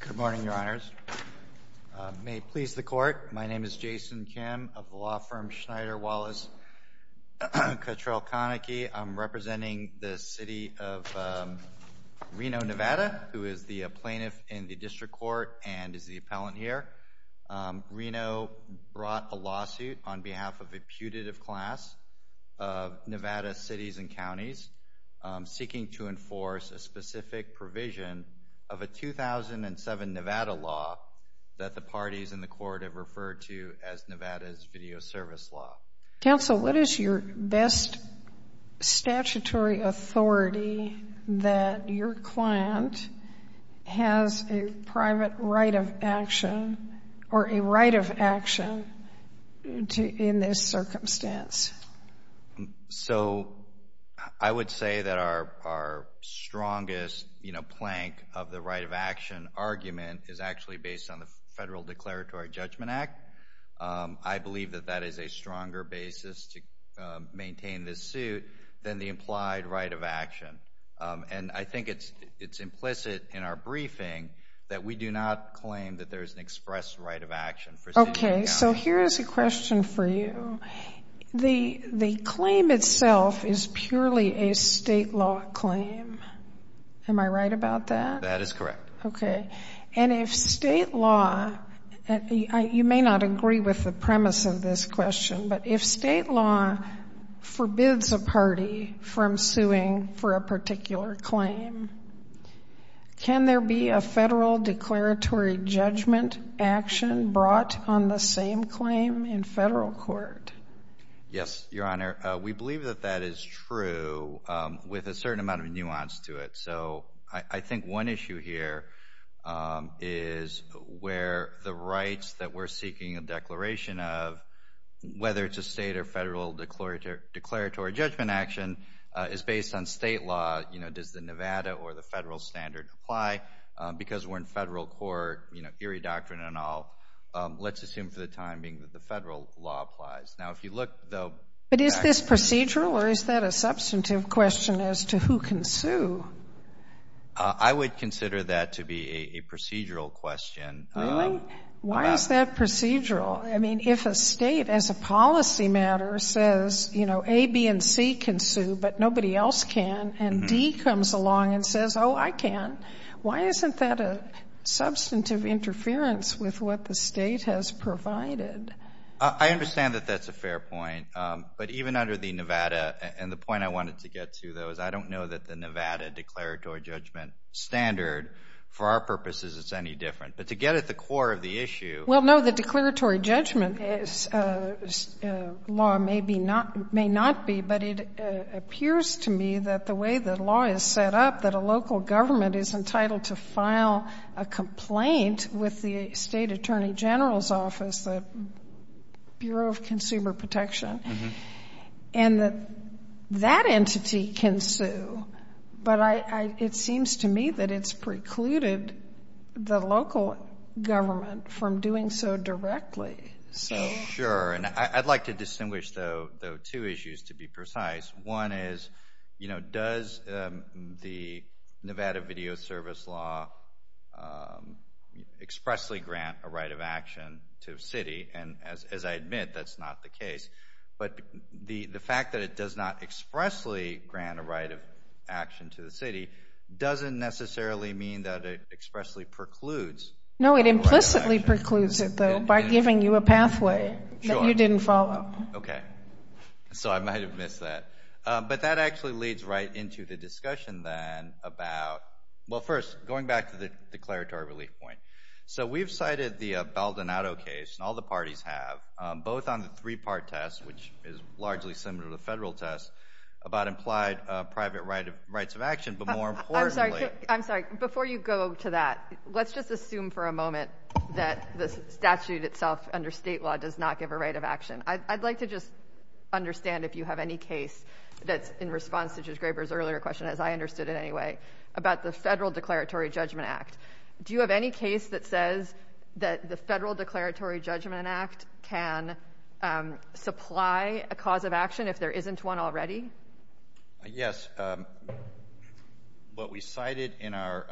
Good morning, Your Honors. May it please the Court, my name is Jason Kim of the law firm Schneider-Wallace-Cotrell-Konecki. I'm representing the City of Reno, Nevada, who is the plaintiff in the District Court and is the appellant here. Reno brought a lawsuit on behalf of a putative class of Nevada cities and counties seeking to enforce a specific provision of a 2007 Nevada law that the parties in the Court have referred to as Nevada's video service law. Counsel, what is your best statutory authority that your client has a private right of action or a right of action in this circumstance? So I would say that our strongest plank of the right of action argument is actually based on the Federal Declaratory Judgment Act. I believe that that is a stronger basis to maintain this suit than the implied right of action. And I think it's implicit in our briefing that we do not claim that there is an expressed right of action for City of Reno. Okay, so here is a question for you. The claim itself is purely a state law claim, am I right about that? That is correct. Okay. And if state law, you may not agree with the premise of this question, but if state law forbids a party from suing for a particular claim, can there be a Federal Declaratory Judgment action brought on the same claim in Federal Court? Yes, Your Honor. We believe that that is true with a certain amount of nuance to it. So I think one issue here is where the rights that we're seeking a declaration of, whether it's a state or Federal Declaratory Judgment action, is based on state law, you know, does the Nevada or the Federal standard apply? Because we're in Federal Court, you know, Erie Doctrine and all, let's assume for the time being that the Federal law applies. Now if you look, though... But is this procedural or is that a substantive question as to who can sue? I would consider that to be a procedural question. Really? Why is that procedural? I mean, if a state, as a policy matter, says, you know, A, B, and C can sue, but nobody else can, and D comes along and says, oh, I can, why isn't that a substantive interference with what the state has provided? I understand that that's a fair point. But even under the Nevada, and the point I wanted to get to, though, is I don't know that the Nevada Declaratory Judgment standard, for our purposes, is any different. But to get at the core of the issue... Well, no, the Declaratory Judgment law may not be, but it appears to me that the way the law is set up, that a local government is entitled to file a complaint with the State Attorney General's Office, the Bureau of Consumer Protection, and that that entity can sue. But it seems to me that it's precluded the local government from doing so directly. Sure. And I'd like to distinguish, though, two issues, to be precise. One is, you know, does the Nevada Video Service law expressly grant a right of action to a city? And as I admit, that's not the case. But the fact that it does not expressly grant a right of action to the city doesn't necessarily mean that it expressly precludes... No, it implicitly precludes it, though, by giving you a pathway that you didn't follow. Okay. So I might have missed that. But that actually leads right into the discussion, then, about, well, first, going back to the declaratory relief point. So we've cited the Baldonado case, and all the parties have, both on the three-part test, which is largely similar to the federal test, about implied private rights of action, but more importantly... I'm sorry. I'm sorry. Before you go to that, let's just assume for a moment that the statute itself under state law does not give a right of action. I'd like to just understand if you have any case that's in response to Judge Graber's earlier question, as I understood it anyway, about the Federal Declaratory Judgment Act. Do you have any case that says that the Federal Declaratory Judgment Act can supply a cause of action if there isn't one already? Yes. What we cited in our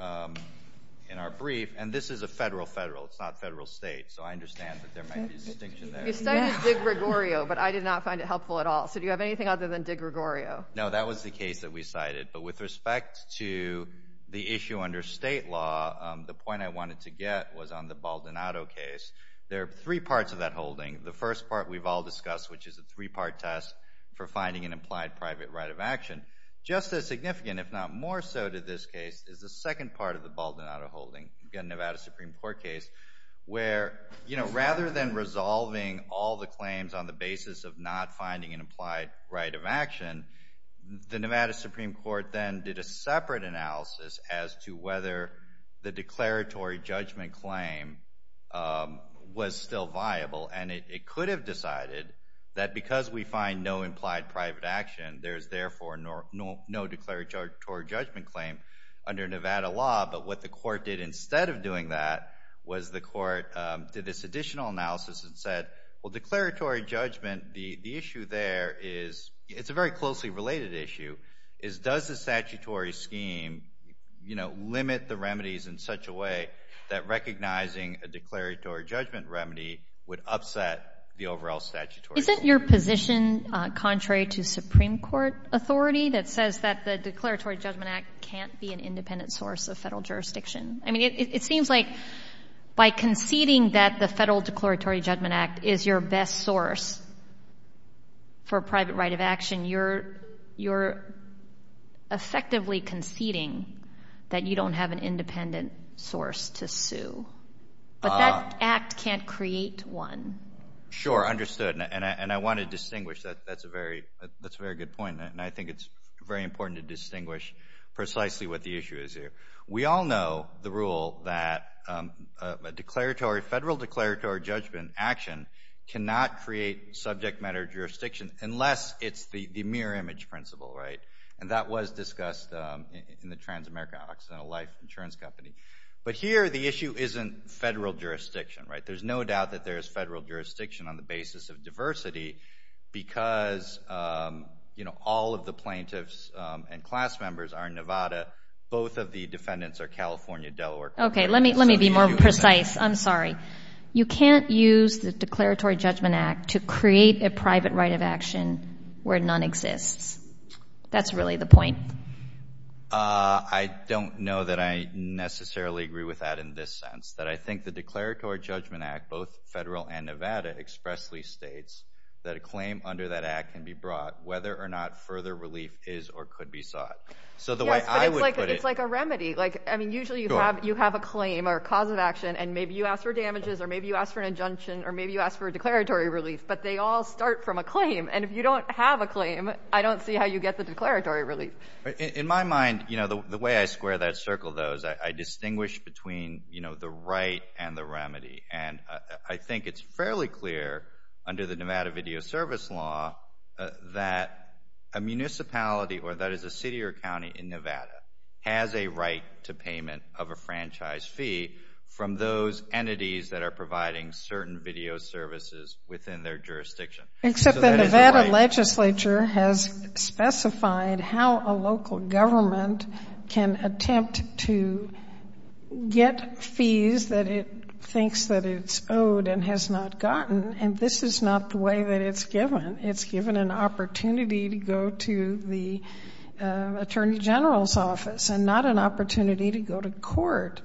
brief, and this is a federal-federal, it's not federal-state, so I understand that there might be a distinction there. You cited Digg-Rigorio, but I did not find it helpful at all. So do you have anything other than Digg-Rigorio? No, that was the case that we cited. But with respect to the issue under state law, the point I wanted to get was on the Baldonado case. There are three parts of that holding. The first part we've all discussed, which is a three-part test for finding an implied private right of action. Just as significant, if not more so, to this case is the second part of the Baldonado holding, the Nevada Supreme Court case, where rather than resolving all the claims on the basis of not finding an implied right of action, the Nevada Supreme Court then did a separate analysis as to whether the declaratory judgment claim was still viable. And it could have decided that because we find no implied private action, there is therefore no declaratory judgment claim under Nevada law. But what the court did instead of doing that was the court did this additional analysis and said, well, declaratory judgment, the issue there is, it's a very closely related issue, is does the statutory scheme limit the remedies in such a way that recognizing a declaratory judgment remedy would upset the overall statutory? Isn't your position contrary to Supreme Court authority that says that the declaratory judgment act can't be an independent source of federal jurisdiction? I mean, it seems like by conceding that the federal declaratory judgment act is your best source for private right of action, you're effectively conceding that you don't have an independent source to sue. But that act can't create one. Sure. You're understood. And I want to distinguish that. That's a very good point. And I think it's very important to distinguish precisely what the issue is here. We all know the rule that a federal declaratory judgment action cannot create subject matter jurisdiction unless it's the mirror image principle, right? And that was discussed in the Transamerica Occidental Life Insurance Company. But here the issue isn't federal jurisdiction, right? There's no doubt that there's federal jurisdiction on the basis of diversity because, you know, all of the plaintiffs and class members are in Nevada. Both of the defendants are California, Delaware. Okay. Let me be more precise. I'm sorry. You can't use the declaratory judgment act to create a private right of action where none exists. That's really the point. I don't know that I necessarily agree with that in this sense, that I think the declaratory judgment act, both federal and Nevada, expressly states that a claim under that act can be brought whether or not further relief is or could be sought. So the way I would put it... Yes, but it's like a remedy. Like, I mean, usually you have a claim or a cause of action and maybe you ask for damages or maybe you ask for an injunction or maybe you ask for a declaratory relief, but they all start from a claim. And if you don't have a claim, I don't see how you get the declaratory relief. In my mind, you know, the way I square that circle, though, is I distinguish between, you know, the right and the remedy. And I think it's fairly clear under the Nevada video service law that a municipality or that is a city or county in Nevada has a right to payment of a franchise fee from those entities that are providing certain video services within their jurisdiction. So that is a right. The legislature has specified how a local government can attempt to get fees that it thinks that it's owed and has not gotten. And this is not the way that it's given. It's given an opportunity to go to the attorney general's office and not an opportunity to go to court.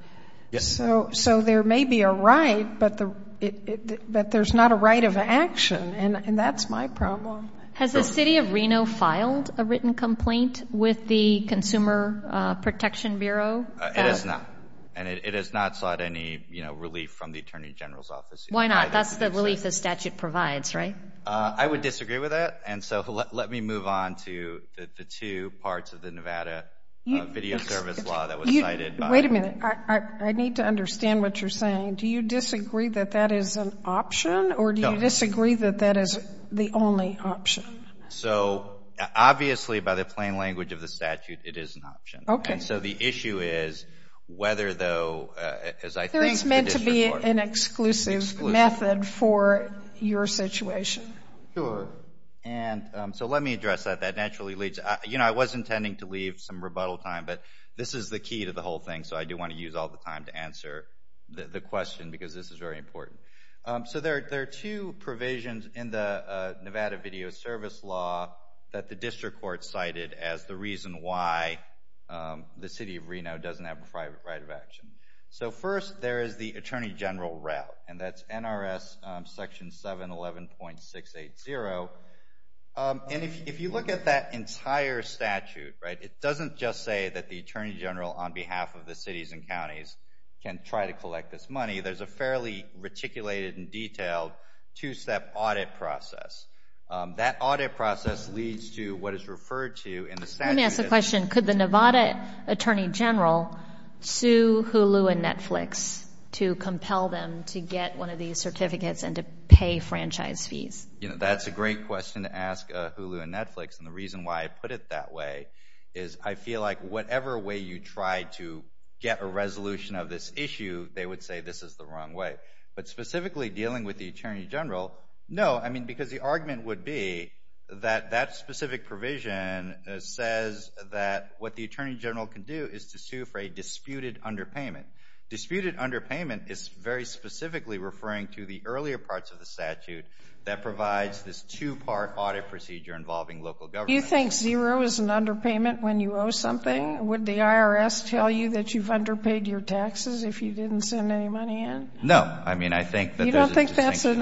So there may be a right, but there's not a right of action. And that's my problem. Has the city of Reno filed a written complaint with the Consumer Protection Bureau? It has not. And it has not sought any, you know, relief from the attorney general's office. Why not? That's the relief the statute provides, right? I would disagree with that. And so let me move on to the two parts of the Nevada video service law that was cited by— Wait a minute. I need to understand what you're saying. Do you disagree that that is an option, or do you disagree that that is the only option? So obviously, by the plain language of the statute, it is an option. Okay. And so the issue is whether, though, as I think the district court— There is meant to be an exclusive method for your situation. Sure. And so let me address that. That naturally leads—you know, I was intending to leave some rebuttal time, but this is the question, because this is very important. So there are two provisions in the Nevada video service law that the district court cited as the reason why the city of Reno doesn't have a private right of action. So first, there is the attorney general route, and that's NRS Section 711.680, and if you look at that entire statute, right, it doesn't just say that the attorney general on behalf of the cities and counties can try to collect this money. There's a fairly reticulated and detailed two-step audit process. That audit process leads to what is referred to in the statute as— Let me ask a question. Could the Nevada attorney general sue Hulu and Netflix to compel them to get one of these certificates and to pay franchise fees? You know, that's a great question to ask Hulu and Netflix, and the reason why I put it that way is I feel like whatever way you try to get a resolution of this issue, they would say this is the wrong way. But specifically dealing with the attorney general, no, I mean, because the argument would be that that specific provision says that what the attorney general can do is to sue for a disputed underpayment. Disputed underpayment is very specifically referring to the earlier parts of the statute that provides this two-part audit procedure involving local government. Do you think zero is an underpayment when you owe something? Would the IRS tell you that you've underpaid your taxes if you didn't send any money in? No. I mean, I think that there's a distinction. You don't think that's an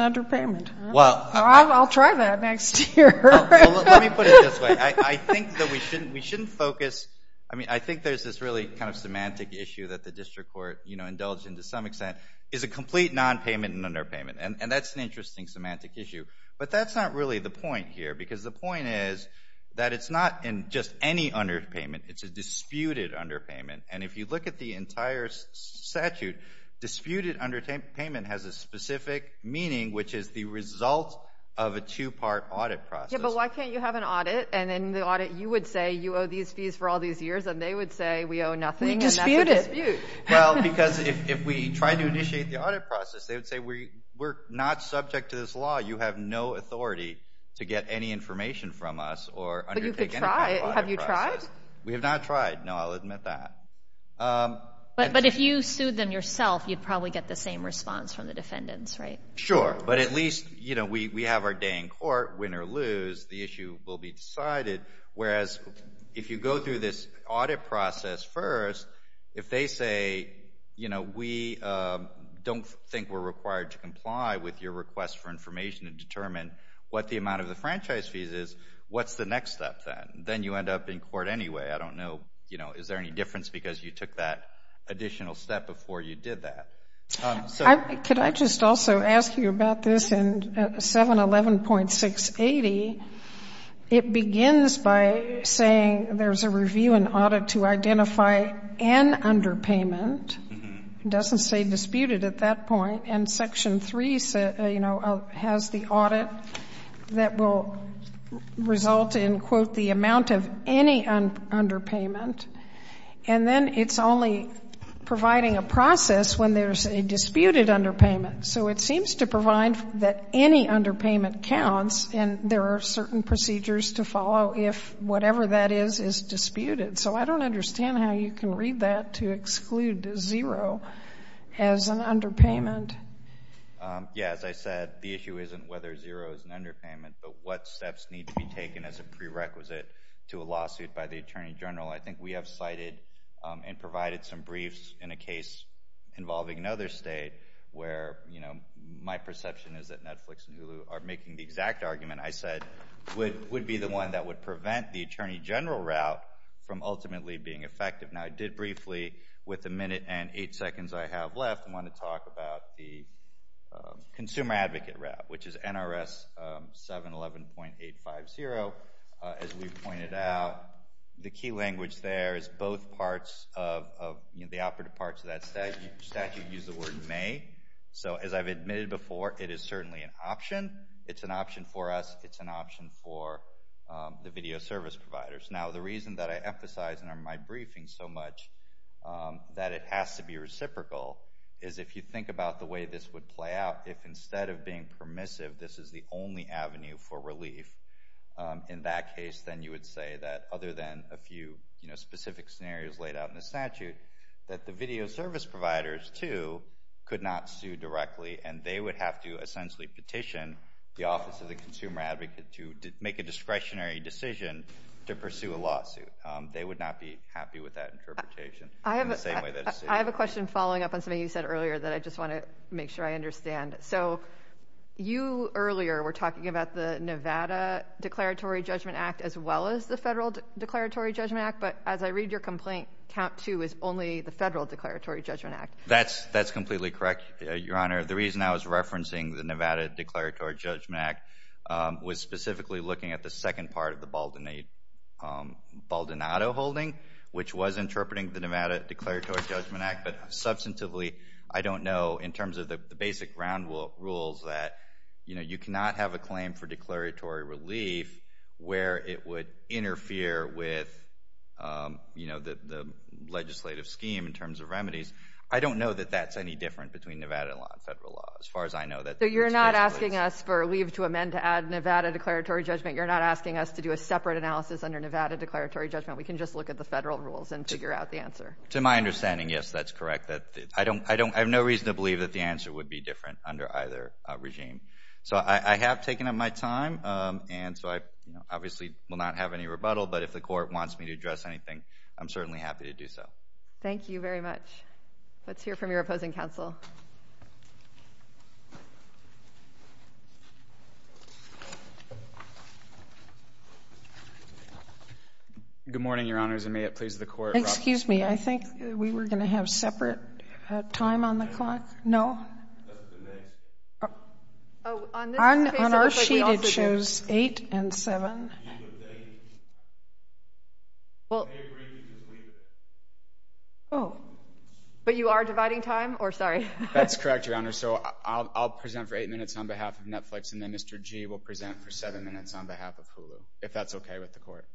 underpayment? Well— I'll try that next year. Well, let me put it this way. I think that we shouldn't focus—I mean, I think there's this really kind of semantic issue that the district court, you know, indulged in to some extent, is a complete nonpayment and underpayment, and that's an interesting semantic issue. But that's not really the point here, because the point is that it's not in just any underpayment. It's a disputed underpayment. And if you look at the entire statute, disputed underpayment has a specific meaning, which is the result of a two-part audit process. Yeah, but why can't you have an audit, and in the audit you would say you owe these fees for all these years, and they would say we owe nothing, and that's a dispute? We dispute it. Well, because if we try to initiate the audit process, they would say we're not subject to this law. You have no authority to get any information from us or undertake any kind of audit process. But you could try. Have you tried? We have not tried. No, I'll admit that. But if you sued them yourself, you'd probably get the same response from the defendants, right? Sure. But at least, you know, we have our day in court, win or lose, the issue will be decided, whereas if you go through this audit process first, if they say, you know, we don't think we're required to comply with your request for information to determine what the amount of the franchise fees is, what's the next step then? Then you end up in court anyway. I don't know, you know, is there any difference because you took that additional step before you did that? Could I just also ask you about this in 711.680? It begins by saying there's a review and audit to identify an underpayment. It doesn't say disputed at that point. And Section 3, you know, has the audit that will result in, quote, the amount of any underpayment. And then it's only providing a process when there's a disputed underpayment. So it seems to provide that any underpayment counts and there are certain procedures to follow if whatever that is is disputed. So I don't understand how you can read that to exclude zero as an underpayment. Yeah, as I said, the issue isn't whether zero is an underpayment, but what steps need to be taken as a prerequisite to a lawsuit by the Attorney General. I think we have cited and provided some briefs in a case involving another state where, you know, my perception is that Netflix and Hulu are making the exact argument I said would be the one that would prevent the Attorney General route from ultimately being effective. Now, I did briefly, with the minute and eight seconds I have left, want to talk about the Consumer Advocate route, which is NRS 711.850. As we've pointed out, the key language there is both parts of, you know, the operative parts of that statute use the word may. So as I've admitted before, it is certainly an option. It's an option for us. It's an option for the video service providers. Now, the reason that I emphasize in my briefing so much that it has to be reciprocal is if you think about the way this would play out, if instead of being permissive, this is the only avenue for relief, in that case, then you would say that other than a few, you know, specific scenarios laid out in the statute, that the video service providers, too, could not sue directly, and they would have to essentially petition the Office of the Consumer Advocate to make a discretionary decision to pursue a lawsuit. They would not be happy with that interpretation in the same way that it's sued. I have a question following up on something you said earlier that I just want to make sure I understand. So you earlier were talking about the Nevada Declaratory Judgment Act as well as the Federal Declaratory Judgment Act, but as I read your complaint, count two is only the Federal Declaratory Judgment Act. That's completely correct, Your Honor. The reason I was referencing the Nevada Declaratory Judgment Act was specifically looking at the second part of the Baldinado holding, which was interpreting the Nevada Declaratory Judgment Act, but substantively, I don't know in terms of the basic ground rules that, you know, you cannot have a claim for declaratory relief where it would interfere with, you know, the legislative scheme in terms of remedies. I don't know that that's any different between Nevada law and federal law as far as I know that there's both ways. So you're not asking us for leave to amend to add Nevada declaratory judgment. You're not asking us to do a separate analysis under Nevada declaratory judgment. We can just look at the federal rules and figure out the answer. To my understanding, yes, that's correct. I have no reason to believe that the answer would be different under either regime. So I have taken up my time, and so I obviously will not have any rebuttal, but if the court wants me to address anything, I'm certainly happy to do so. Thank you very much. Let's hear from your opposing counsel. Good morning, your honors, and may it please the court. Excuse me. I think we were going to have separate time on the clock. No? That's today. Oh, on this case, it looks like we also did. On our sheet, it shows 8 and 7. You looked at 8. May it please the court. Oh. But you are dividing time? Or sorry. That's correct, your honors. So I'll present for 8 minutes on behalf of Netflix, and then Mr. G will present for 7 minutes on behalf of Hulu, if that's okay with the court.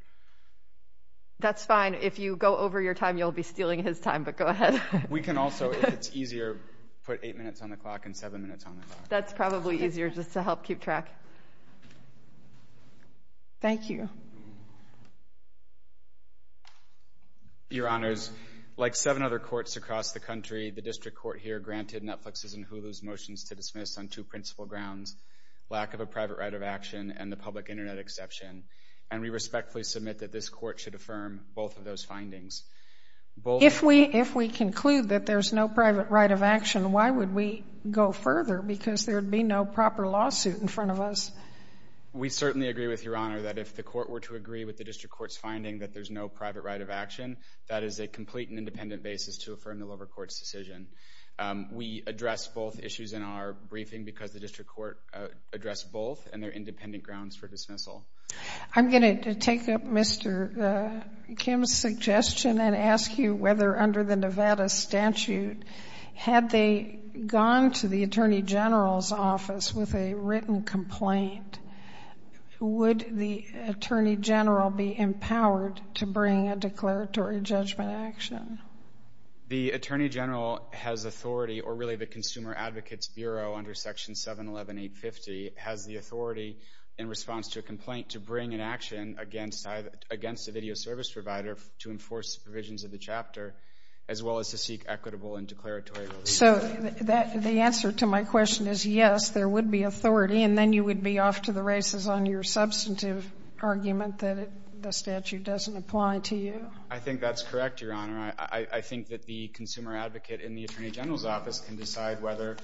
That's fine. If you go over your time, you'll be stealing his time, but go ahead. We can also, if it's easier, put 8 minutes on the clock and 7 minutes on the clock. That's probably easier just to help keep track. Thank you. Your honors, like 7 other courts across the country, the district court here granted Netflix's and Hulu's motions to dismiss on two principal grounds, lack of a private right of action and the public internet exception, and we respectfully submit that this court should affirm both of those findings. If we conclude that there's no private right of action, why would we go further? Because there would be no proper lawsuit in front of us. We certainly agree with your honor that if the court were to agree with the district court's finding that there's no private right of action, that is a complete and independent basis to affirm the lower court's decision. We address both issues in our briefing because the district court addressed both and they're independent grounds for dismissal. I'm going to take up Mr. Kim's suggestion and ask you whether under the Nevada statute had they gone to the Attorney General's office with a written complaint, would the Attorney General be empowered to bring a declaratory judgment action? The Attorney General has authority, or really the Consumer Advocates Bureau under Section 711850 has the authority in response to a complaint to bring an action against a video service provider to enforce provisions of the chapter, as well as to seek equitable and declaratory relief. So the answer to my question is yes, there would be authority, and then you would be off to the races on your substantive argument that the statute doesn't apply to you? I think that's correct, Your Honor. I think that the Consumer Advocate in the Attorney General's office can decide whether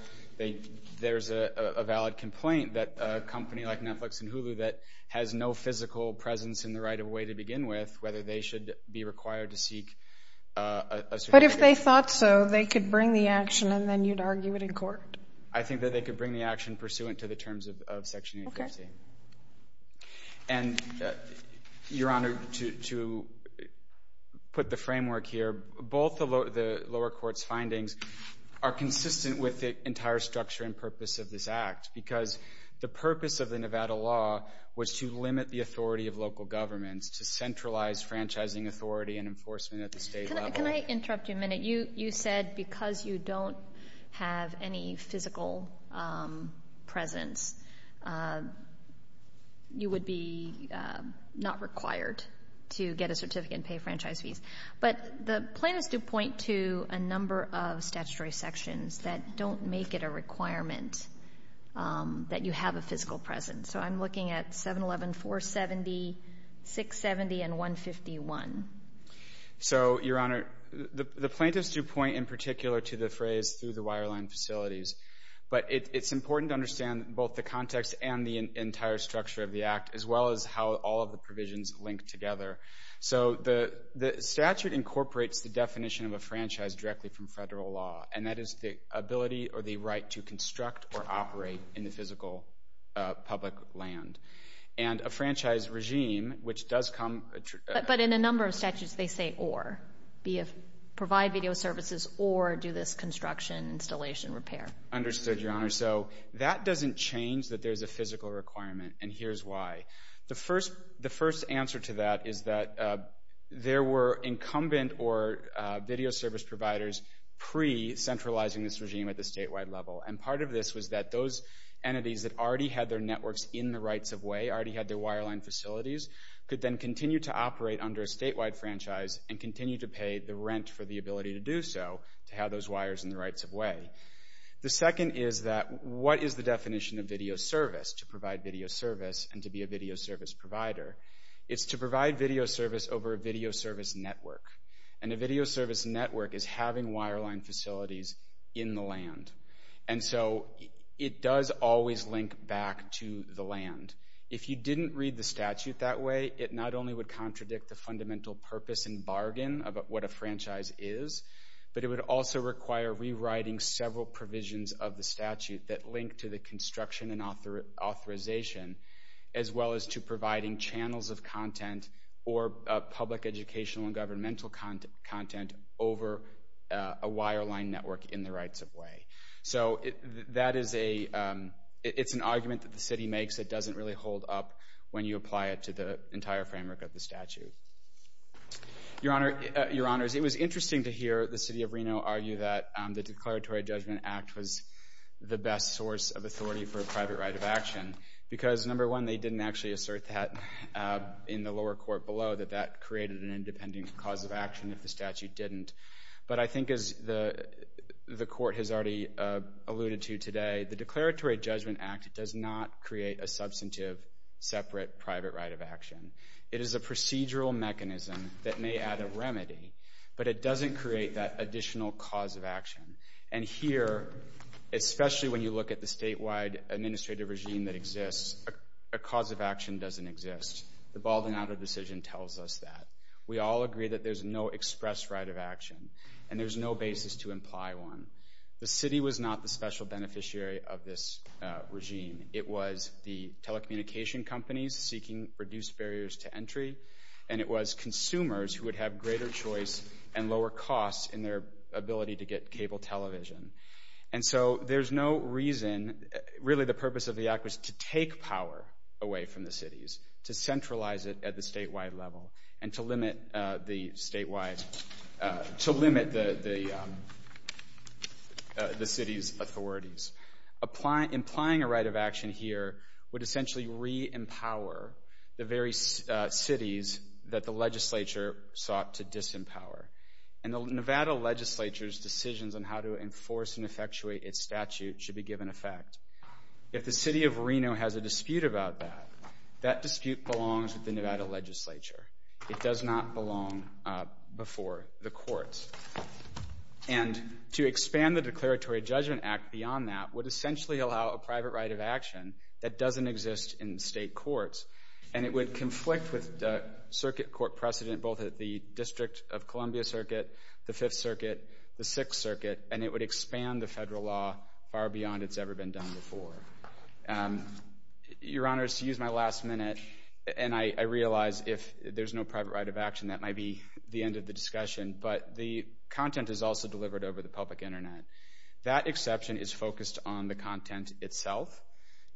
there's a valid complaint that a company like Netflix and Hulu that has no physical presence in the right-of-way to begin with, whether they should be required to seek a certificate. But if they thought so, they could bring the action and then you'd argue it in court? I think that they could bring the action pursuant to the terms of Section 815. Okay. And, Your Honor, to put the framework here, both the lower court's findings are consistent with the entire structure and purpose of this Act because the purpose of the Nevada law was to limit the authority of local governments, to centralize franchising authority and enforcement at the state level. Can I interrupt you a minute? You said because you don't have any physical presence, you would be not required to get a certificate and pay franchise fees. But the plaintiffs do point to a number of statutory sections that don't make it a requirement that you have a physical presence. So I'm looking at 711, 470, 670, and 151. So, Your Honor, the plaintiffs do point in particular to the phrase, through the wireline facilities. But it's important to understand both the context and the entire structure of the Act, as well as how all of the provisions link together. So the statute incorporates the definition of a franchise directly from federal law, and that is the ability or the right to construct or operate in the physical public land. And a franchise regime, which does come... But in a number of statutes, they say or. Provide video services or do this construction, installation, repair. Understood, Your Honor. So that doesn't change that there's a physical requirement, and here's why. The first answer to that is that there were incumbent or video service providers pre-centralizing this regime at the statewide level. And part of this was that those entities that already had their networks in the rights-of-way, already had their wireline facilities, could then continue to operate under a statewide franchise and continue to pay the rent for the ability to do so, to have those wires in the rights-of-way. The second is that what is the definition of video service, to provide video service, and to be a video service provider? It's to provide video service over a video service network. And a video service network is having wireline facilities in the land. And so it does always link back to the land. If you didn't read the statute that way, it not only would contradict the fundamental purpose and bargain about what a franchise is, but it would also require rewriting several provisions of the statute that link to the construction and authorization, as well as to providing channels of content or public educational and governmental content over a wireline network in the rights-of-way. So it's an argument that the city makes that doesn't really hold up when you apply it to the entire framework of the statute. Your Honors, it was interesting to hear the City of Reno argue that the Declaratory Judgment Act was the best source of authority for a private right of action because, number one, they didn't actually assert that in the lower court below, that that created an independent cause of action if the statute didn't. But I think, as the court has already alluded to today, the Declaratory Judgment Act does not create a substantive, separate private right of action. It is a procedural mechanism that may add a remedy, but it doesn't create that additional cause of action. And here, especially when you look at the statewide administrative regime that exists, a cause of action doesn't exist. The Baldinado decision tells us that. We all agree that there's no express right of action, and there's no basis to imply one. The city was not the special beneficiary of this regime. It was the telecommunication companies seeking reduced barriers to entry, and it was consumers who would have greater choice and lower costs in their ability to get cable television. And so there's no reason. Really, the purpose of the act was to take power away from the cities, to centralize it at the statewide level, and to limit the city's authorities. Implying a right of action here would essentially re-empower the various cities that the legislature sought to disempower. And the Nevada legislature's decisions on how to enforce and effectuate its statute should be given effect. If the city of Reno has a dispute about that, that dispute belongs with the Nevada legislature. It does not belong before the courts. And to expand the Declaratory Judgment Act beyond that would essentially allow a private right of action that doesn't exist in state courts. And it would conflict with circuit court precedent, both at the District of Columbia Circuit, the Fifth Circuit, the Sixth Circuit, and it would expand the federal law far beyond it's ever been done before. Your Honor, to use my last minute, and I realize if there's no private right of action, that might be the end of the discussion, but the content is also delivered over the public Internet. That exception is focused on the content itself.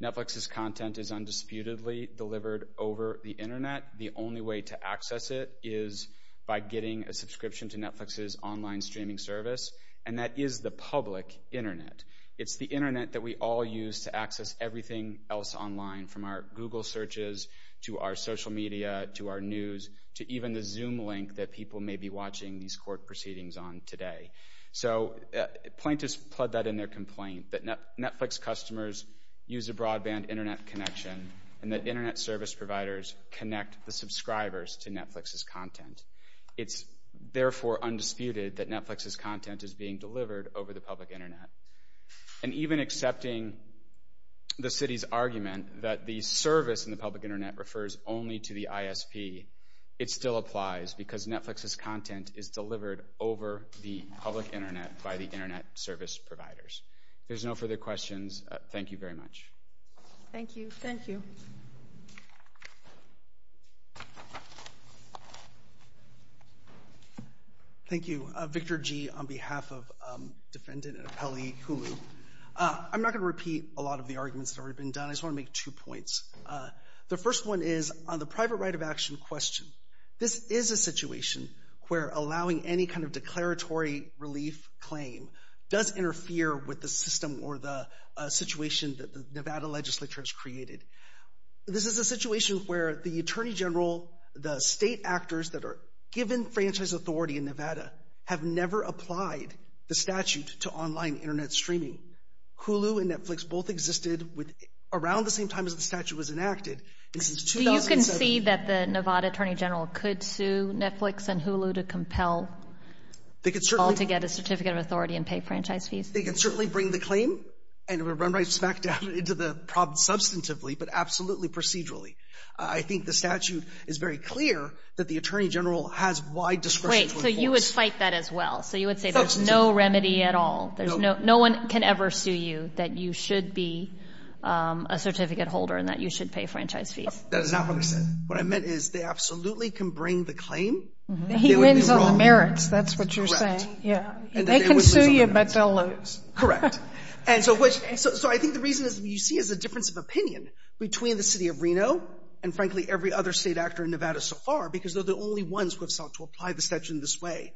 Netflix's content is undisputedly delivered over the Internet. The only way to access it is by getting a subscription to Netflix's online streaming service, and that is the public Internet. It's the Internet that we all use to access everything else online, from our Google searches, to our social media, to our news, to even the Zoom link that people may be watching these court proceedings on today. So plaintiffs plug that in their complaint, that Netflix customers use a broadband Internet connection, and that Internet service providers connect the subscribers to Netflix's content. It's therefore undisputed that Netflix's content is being delivered over the public Internet. And even accepting the city's argument that the service in the public Internet refers only to the ISP, it still applies because Netflix's content is delivered over the public Internet by the Internet service providers. There's no further questions. Thank you very much. Thank you. Thank you. Thank you. Thank you. Victor G. on behalf of defendant and appellee Hulu. I'm not going to repeat a lot of the arguments that have already been done. I just want to make two points. The first one is on the private right of action question. This is a situation where allowing any kind of declaratory relief claim does interfere with the system or the situation that the Nevada legislature has created. This is a situation where the Attorney General, the state actors that are given franchise authority in Nevada, have never applied the statute to online Internet streaming. Hulu and Netflix both existed around the same time as the statute was enacted. You can see that the Nevada Attorney General could sue Netflix and Hulu to compel all to get a certificate of authority and pay franchise fees. They can certainly bring the claim and run right smack down into the problem substantively, but absolutely procedurally. I think the statute is very clear that the Attorney General has wide discretion to enforce. Wait, so you would fight that as well? So you would say there's no remedy at all? No. No one can ever sue you that you should be a certificate holder and that you should pay franchise fees? That is not what I said. What I meant is they absolutely can bring the claim. He wins on the merits. That's what you're saying. Correct. They can sue you, but they'll lose. Correct. So I think the reason you see is a difference of opinion between the city of Reno and, frankly, every other state actor in Nevada so far, because they're the only ones who have sought to apply the statute in this way.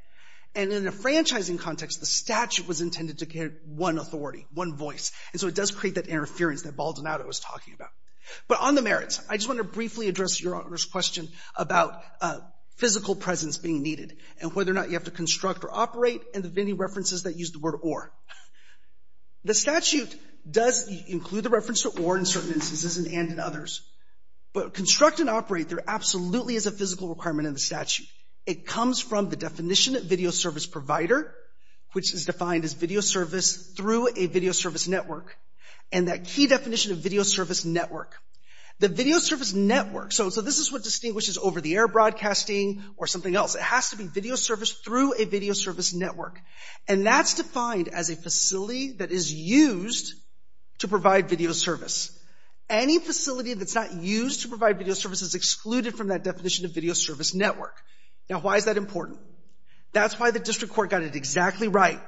And in a franchising context, the statute was intended to get one authority, one voice, and so it does create that interference that Baldonado was talking about. But on the merits, I just want to briefly address Your Honor's question about physical presence being needed and whether or not you have to construct or operate and the many references that use the word or. The statute does include the reference to or in certain instances and in others, but construct and operate there absolutely is a physical requirement in the statute. It comes from the definition of video service provider, which is defined as video service through a video service network, and that key definition of video service network. The video service network, so this is what distinguishes over-the-air broadcasting or something else. It has to be video service through a video service network, and that's defined as a facility that is used to provide video service. Any facility that's not used to provide video service is excluded from that definition of video service network. Now, why is that important? That's why the district court got it exactly right,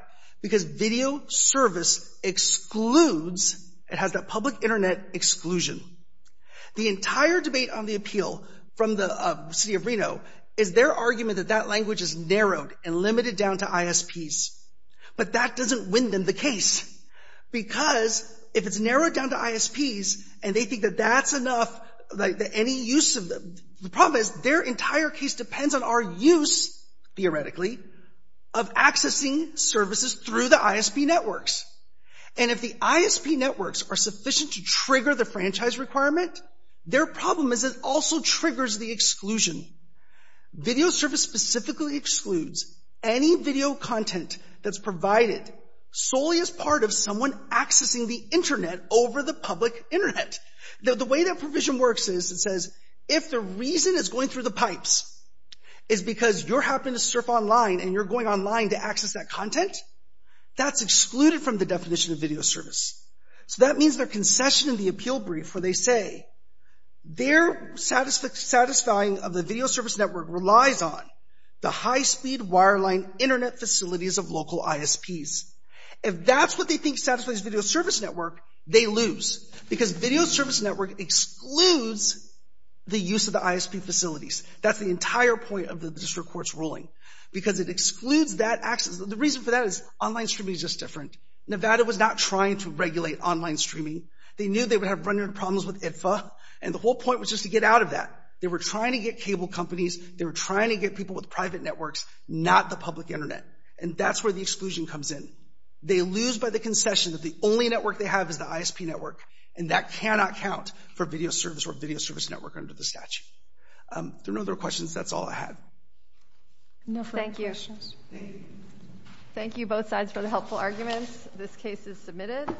because video service excludes, it has that public internet exclusion. The entire debate on the appeal from the city of Reno is their argument that that language is narrowed and limited down to ISPs. But that doesn't win them the case, because if it's narrowed down to ISPs and they think that that's enough, that any use of them, the problem is their entire case depends on our use, theoretically, of accessing services through the ISP networks. And if the ISP networks are sufficient to trigger the franchise requirement, their problem is it also triggers the exclusion. Video service specifically excludes any video content that's provided solely as part of someone accessing the internet over the public internet. The way that provision works is, it says, if the reason it's going through the pipes is because you're having to surf online and you're going online to access that content, that's excluded from the definition of video service. So that means their concession in the appeal brief where they say their satisfying of the video service network relies on the high-speed wireline internet facilities of local ISPs. If that's what they think satisfies video service network, they lose, because video service network excludes the use of the ISP facilities. That's the entire point of the district court's ruling, because it excludes that access. The reason for that is online streaming is just different. Nevada was not trying to regulate online streaming. They knew they would have running problems with IFA, and the whole point was just to get out of that. They were trying to get cable companies. They were trying to get people with private networks, not the public internet. And that's where the exclusion comes in. They lose by the concession that the only network they have is the ISP network, and that cannot count for video service or video service network under the statute. If there are no other questions, that's all I have. Thank you. Thank you both sides for the helpful arguments. This case is submitted.